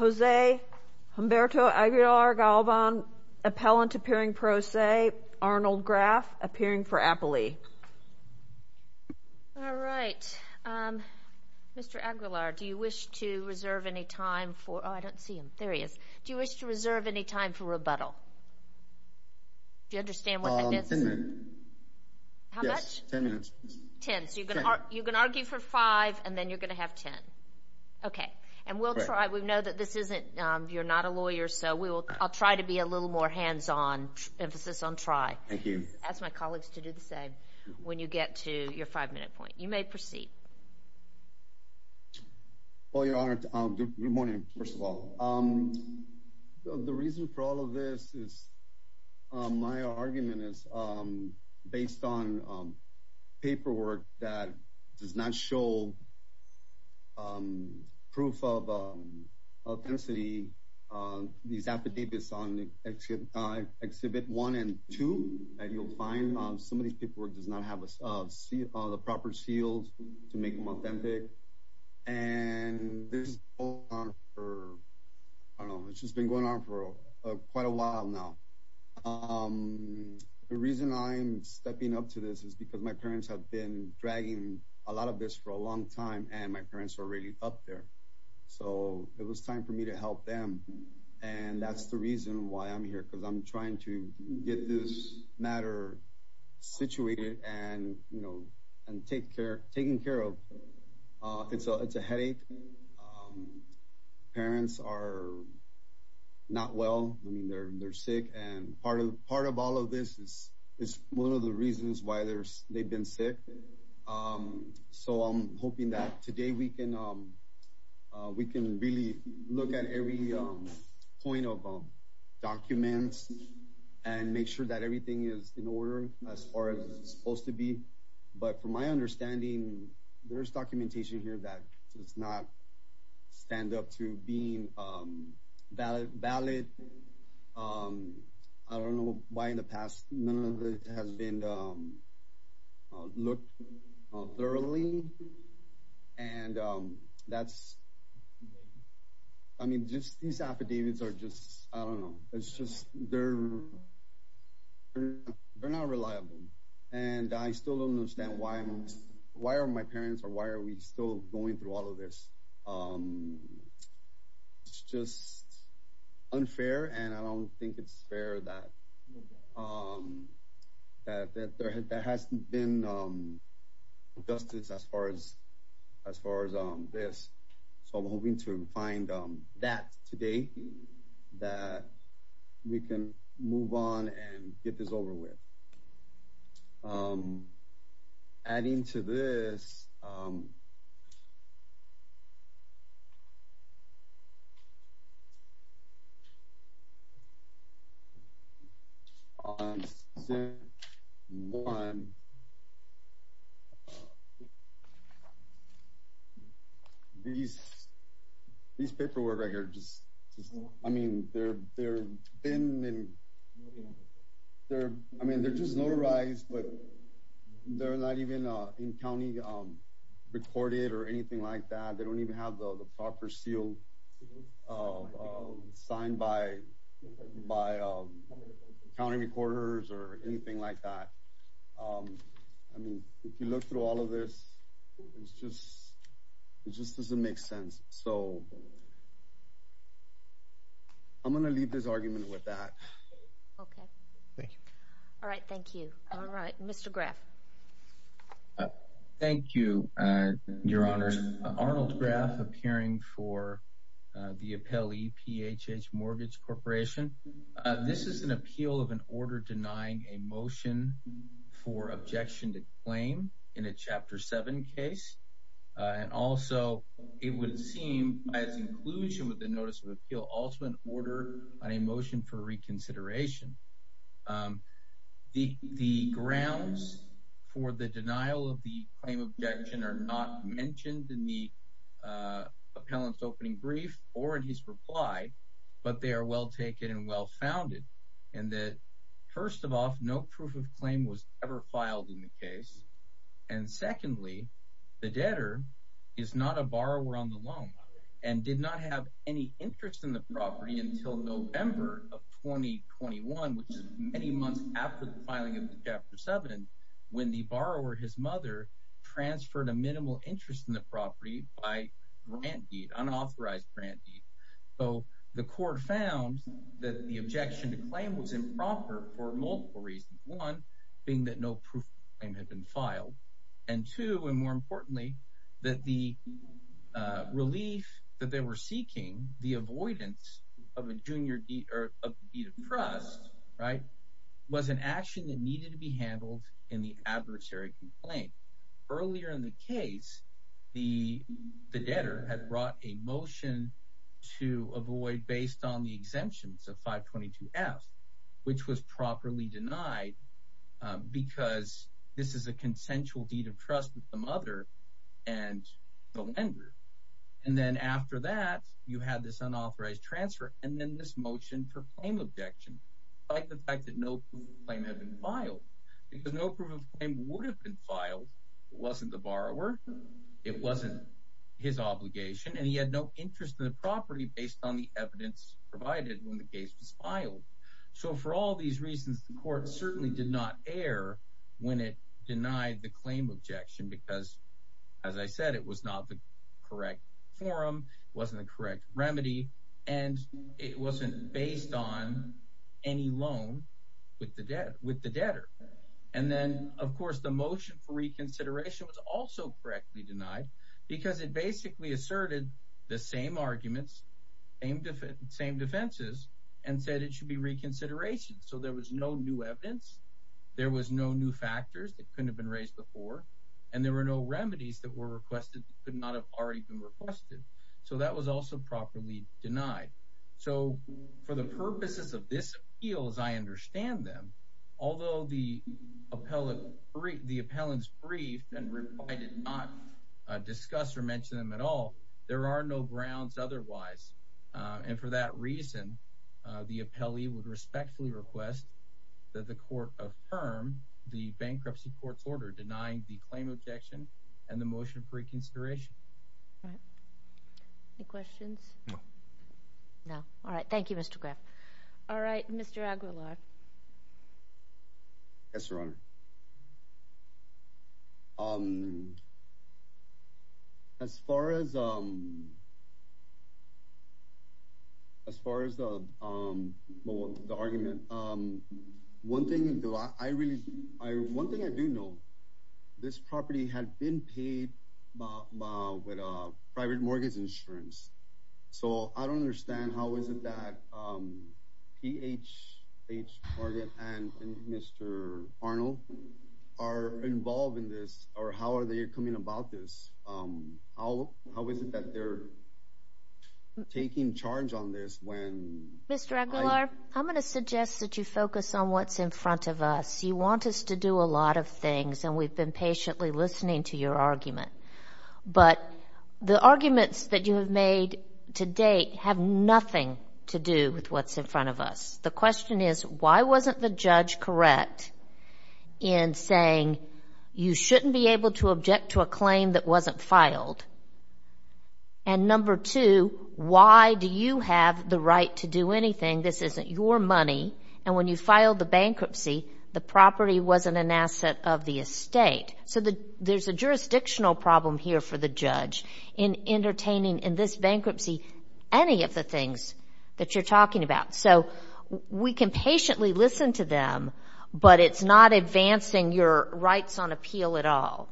JOSE HUMBERTO AGUILAR GALVAN, APPELLANT APPEARING PRO SE, ARNOLD GRAFF, APPEARING FOR APPELEY. All right. Mr. Aguilar, do you wish to reserve any time for, oh, I don't see him. There he is. Do you wish to reserve any time for rebuttal? Do you understand what that is? Ten minutes. How much? Ten minutes. Ten. So you're going to argue for five and then you're going to have ten. Okay. And we'll try, we know that this isn't, you're not a lawyer, so I'll try to be a little more hands-on, emphasis on try. Thank you. Ask my colleagues to do the same when you get to your five-minute point. You may proceed. Well, Your Honor, good morning, first of all. The reason for all of this is my argument is based on paperwork that does not show proof of intensity. These affidavits on Exhibit 1 and 2 that you'll find, some of these paperwork does not have the proper seals to make them authentic. And this has been going on for quite a while now. The reason I'm stepping up to this is because my parents have been dragging a lot of this for a long time and my parents are already up there. So it was time for me to help them. And that's the reason why I'm here, because I'm trying to get this matter situated and taken care of. It's a headache. Parents are not well. I mean, they're sick. And part of all of this is one of the reasons why they've been sick. So I'm hoping that today we can really look at every point of documents and make sure that everything is in order as far as it's supposed to be. But from my understanding, there's documentation here that does not stand up to being valid. I don't know why in the past none of it has been looked at thoroughly. And that's, I mean, just these affidavits are just, I don't know, it's just they're not reliable. And I still don't understand why. Why are my parents or why are we still going through all of this? It's just unfair. And I don't think it's fair that there hasn't been justice as far as this. So I'm hoping to find that today that we can move on and get this over with. Adding to this. These paperwork right here, I mean, they're just notarized, but they're not even in county recorded or anything like that. They don't even have the proper seal signed by county recorders or anything like that. I mean, if you look through all of this, it just doesn't make sense. So I'm going to leave this argument with that. Okay. Thank you. All right. Thank you. All right. Mr. Graff. Thank you, Your Honors. Arnold Graff, appearing for the Appellee PHH Mortgage Corporation. This is an appeal of an order denying a motion for objection to claim in a Chapter 7 case. And also, it would seem, as inclusion with the Notice of Appeal, also an order on a motion for reconsideration. The grounds for the denial of the claim of objection are not mentioned in the appellant's opening brief or in his reply, but they are well taken and well founded. And that, first of all, no proof of claim was ever filed in the case. And secondly, the debtor is not a borrower on the loan and did not have any interest in the property until November of 2021, which is many months after the filing of the Chapter 7, when the borrower, his mother, transferred a minimal interest in the property by grant deed, unauthorized grant deed. So the court found that the objection to claim was improper for multiple reasons. One, being that no proof of claim had been filed. And two, and more importantly, that the relief that they were seeking, the avoidance of a junior deed of trust, was an action that needed to be handled in the adversary complaint. Earlier in the case, the debtor had brought a motion to avoid based on the exemptions of 522F, which was properly denied because this is a consensual deed of trust with the mother and the lender. And then after that, you had this unauthorized transfer and then this motion for claim objection, despite the fact that no proof of claim had been filed. Because no proof of claim would have been filed if it wasn't the borrower, it wasn't his obligation, and he had no interest in the property based on the evidence provided when the case was filed. So for all these reasons, the court certainly did not err when it denied the claim objection because, as I said, it was not the correct forum, it wasn't the correct remedy, and it wasn't based on any loan with the debtor. And then, of course, the motion for reconsideration was also correctly denied because it basically asserted the same arguments, same defenses, and said it should be reconsideration. So there was no new evidence, there was no new factors that couldn't have been raised before, and there were no remedies that were requested that could not have already been requested. So that was also properly denied. So for the purposes of this appeal, as I understand them, although the appellant's brief and reply did not discuss or mention them at all, there are no grounds otherwise. And for that reason, the appellee would respectfully request that the court affirm the bankruptcy court's order denying the claim objection and the motion for reconsideration. All right. Any questions? No. No. All right. Thank you, Mr. Graff. All right. Mr. Aguilar. Yes, Your Honor. As far as the argument, one thing I do know, this property had been paid with private mortgage insurance. So I don't understand how is it that P.H. Target and Mr. Arnold are involved in this, or how are they coming about this? How is it that they're taking charge on this when… Mr. Aguilar, I'm going to suggest that you focus on what's in front of us. You want us to do a lot of things, and we've been patiently listening to your argument. But the arguments that you have made to date have nothing to do with what's in front of us. The question is, why wasn't the judge correct in saying you shouldn't be able to object to a claim that wasn't filed? And number two, why do you have the right to do anything? This isn't your money, and when you filed the bankruptcy, the property wasn't an asset of the estate. So there's a jurisdictional problem here for the judge in entertaining, in this bankruptcy, any of the things that you're talking about. So we can patiently listen to them, but it's not advancing your rights on appeal at all.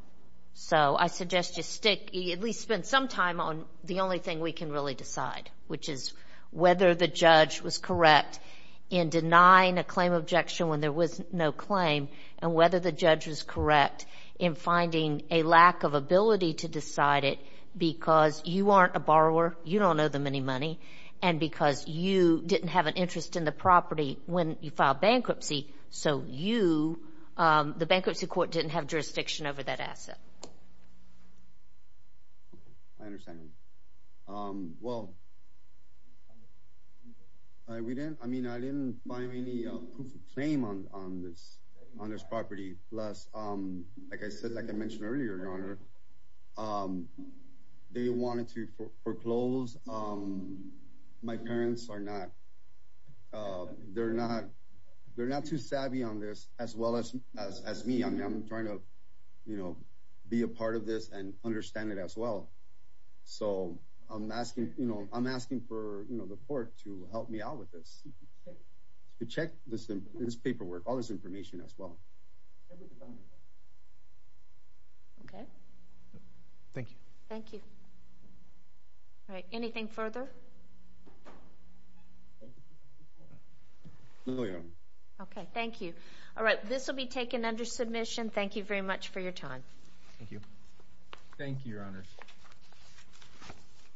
So I suggest you stick, at least spend some time on the only thing we can really decide, which is whether the judge was correct in denying a claim objection when there was no claim, and whether the judge was correct in finding a lack of ability to decide it because you aren't a borrower, you don't owe them any money, and because you didn't have an interest in the property when you filed bankruptcy, so you, the bankruptcy court, didn't have jurisdiction over that asset. I understand. Well, we didn't, I mean, I didn't find any proof of claim on this property. Plus, like I said, like I mentioned earlier, Your Honor, they wanted to foreclose. My parents are not, they're not too savvy on this as well as me. I'm trying to, you know, be a part of this and understand it as well. So I'm asking, you know, I'm asking for, you know, the court to help me out with this, to check this paperwork, all this information as well. Okay. Thank you. Thank you. All right, anything further? No, Your Honor. Okay, thank you. All right, this will be taken under submission. Thank you very much for your time. Thank you. Thank you, Your Honor.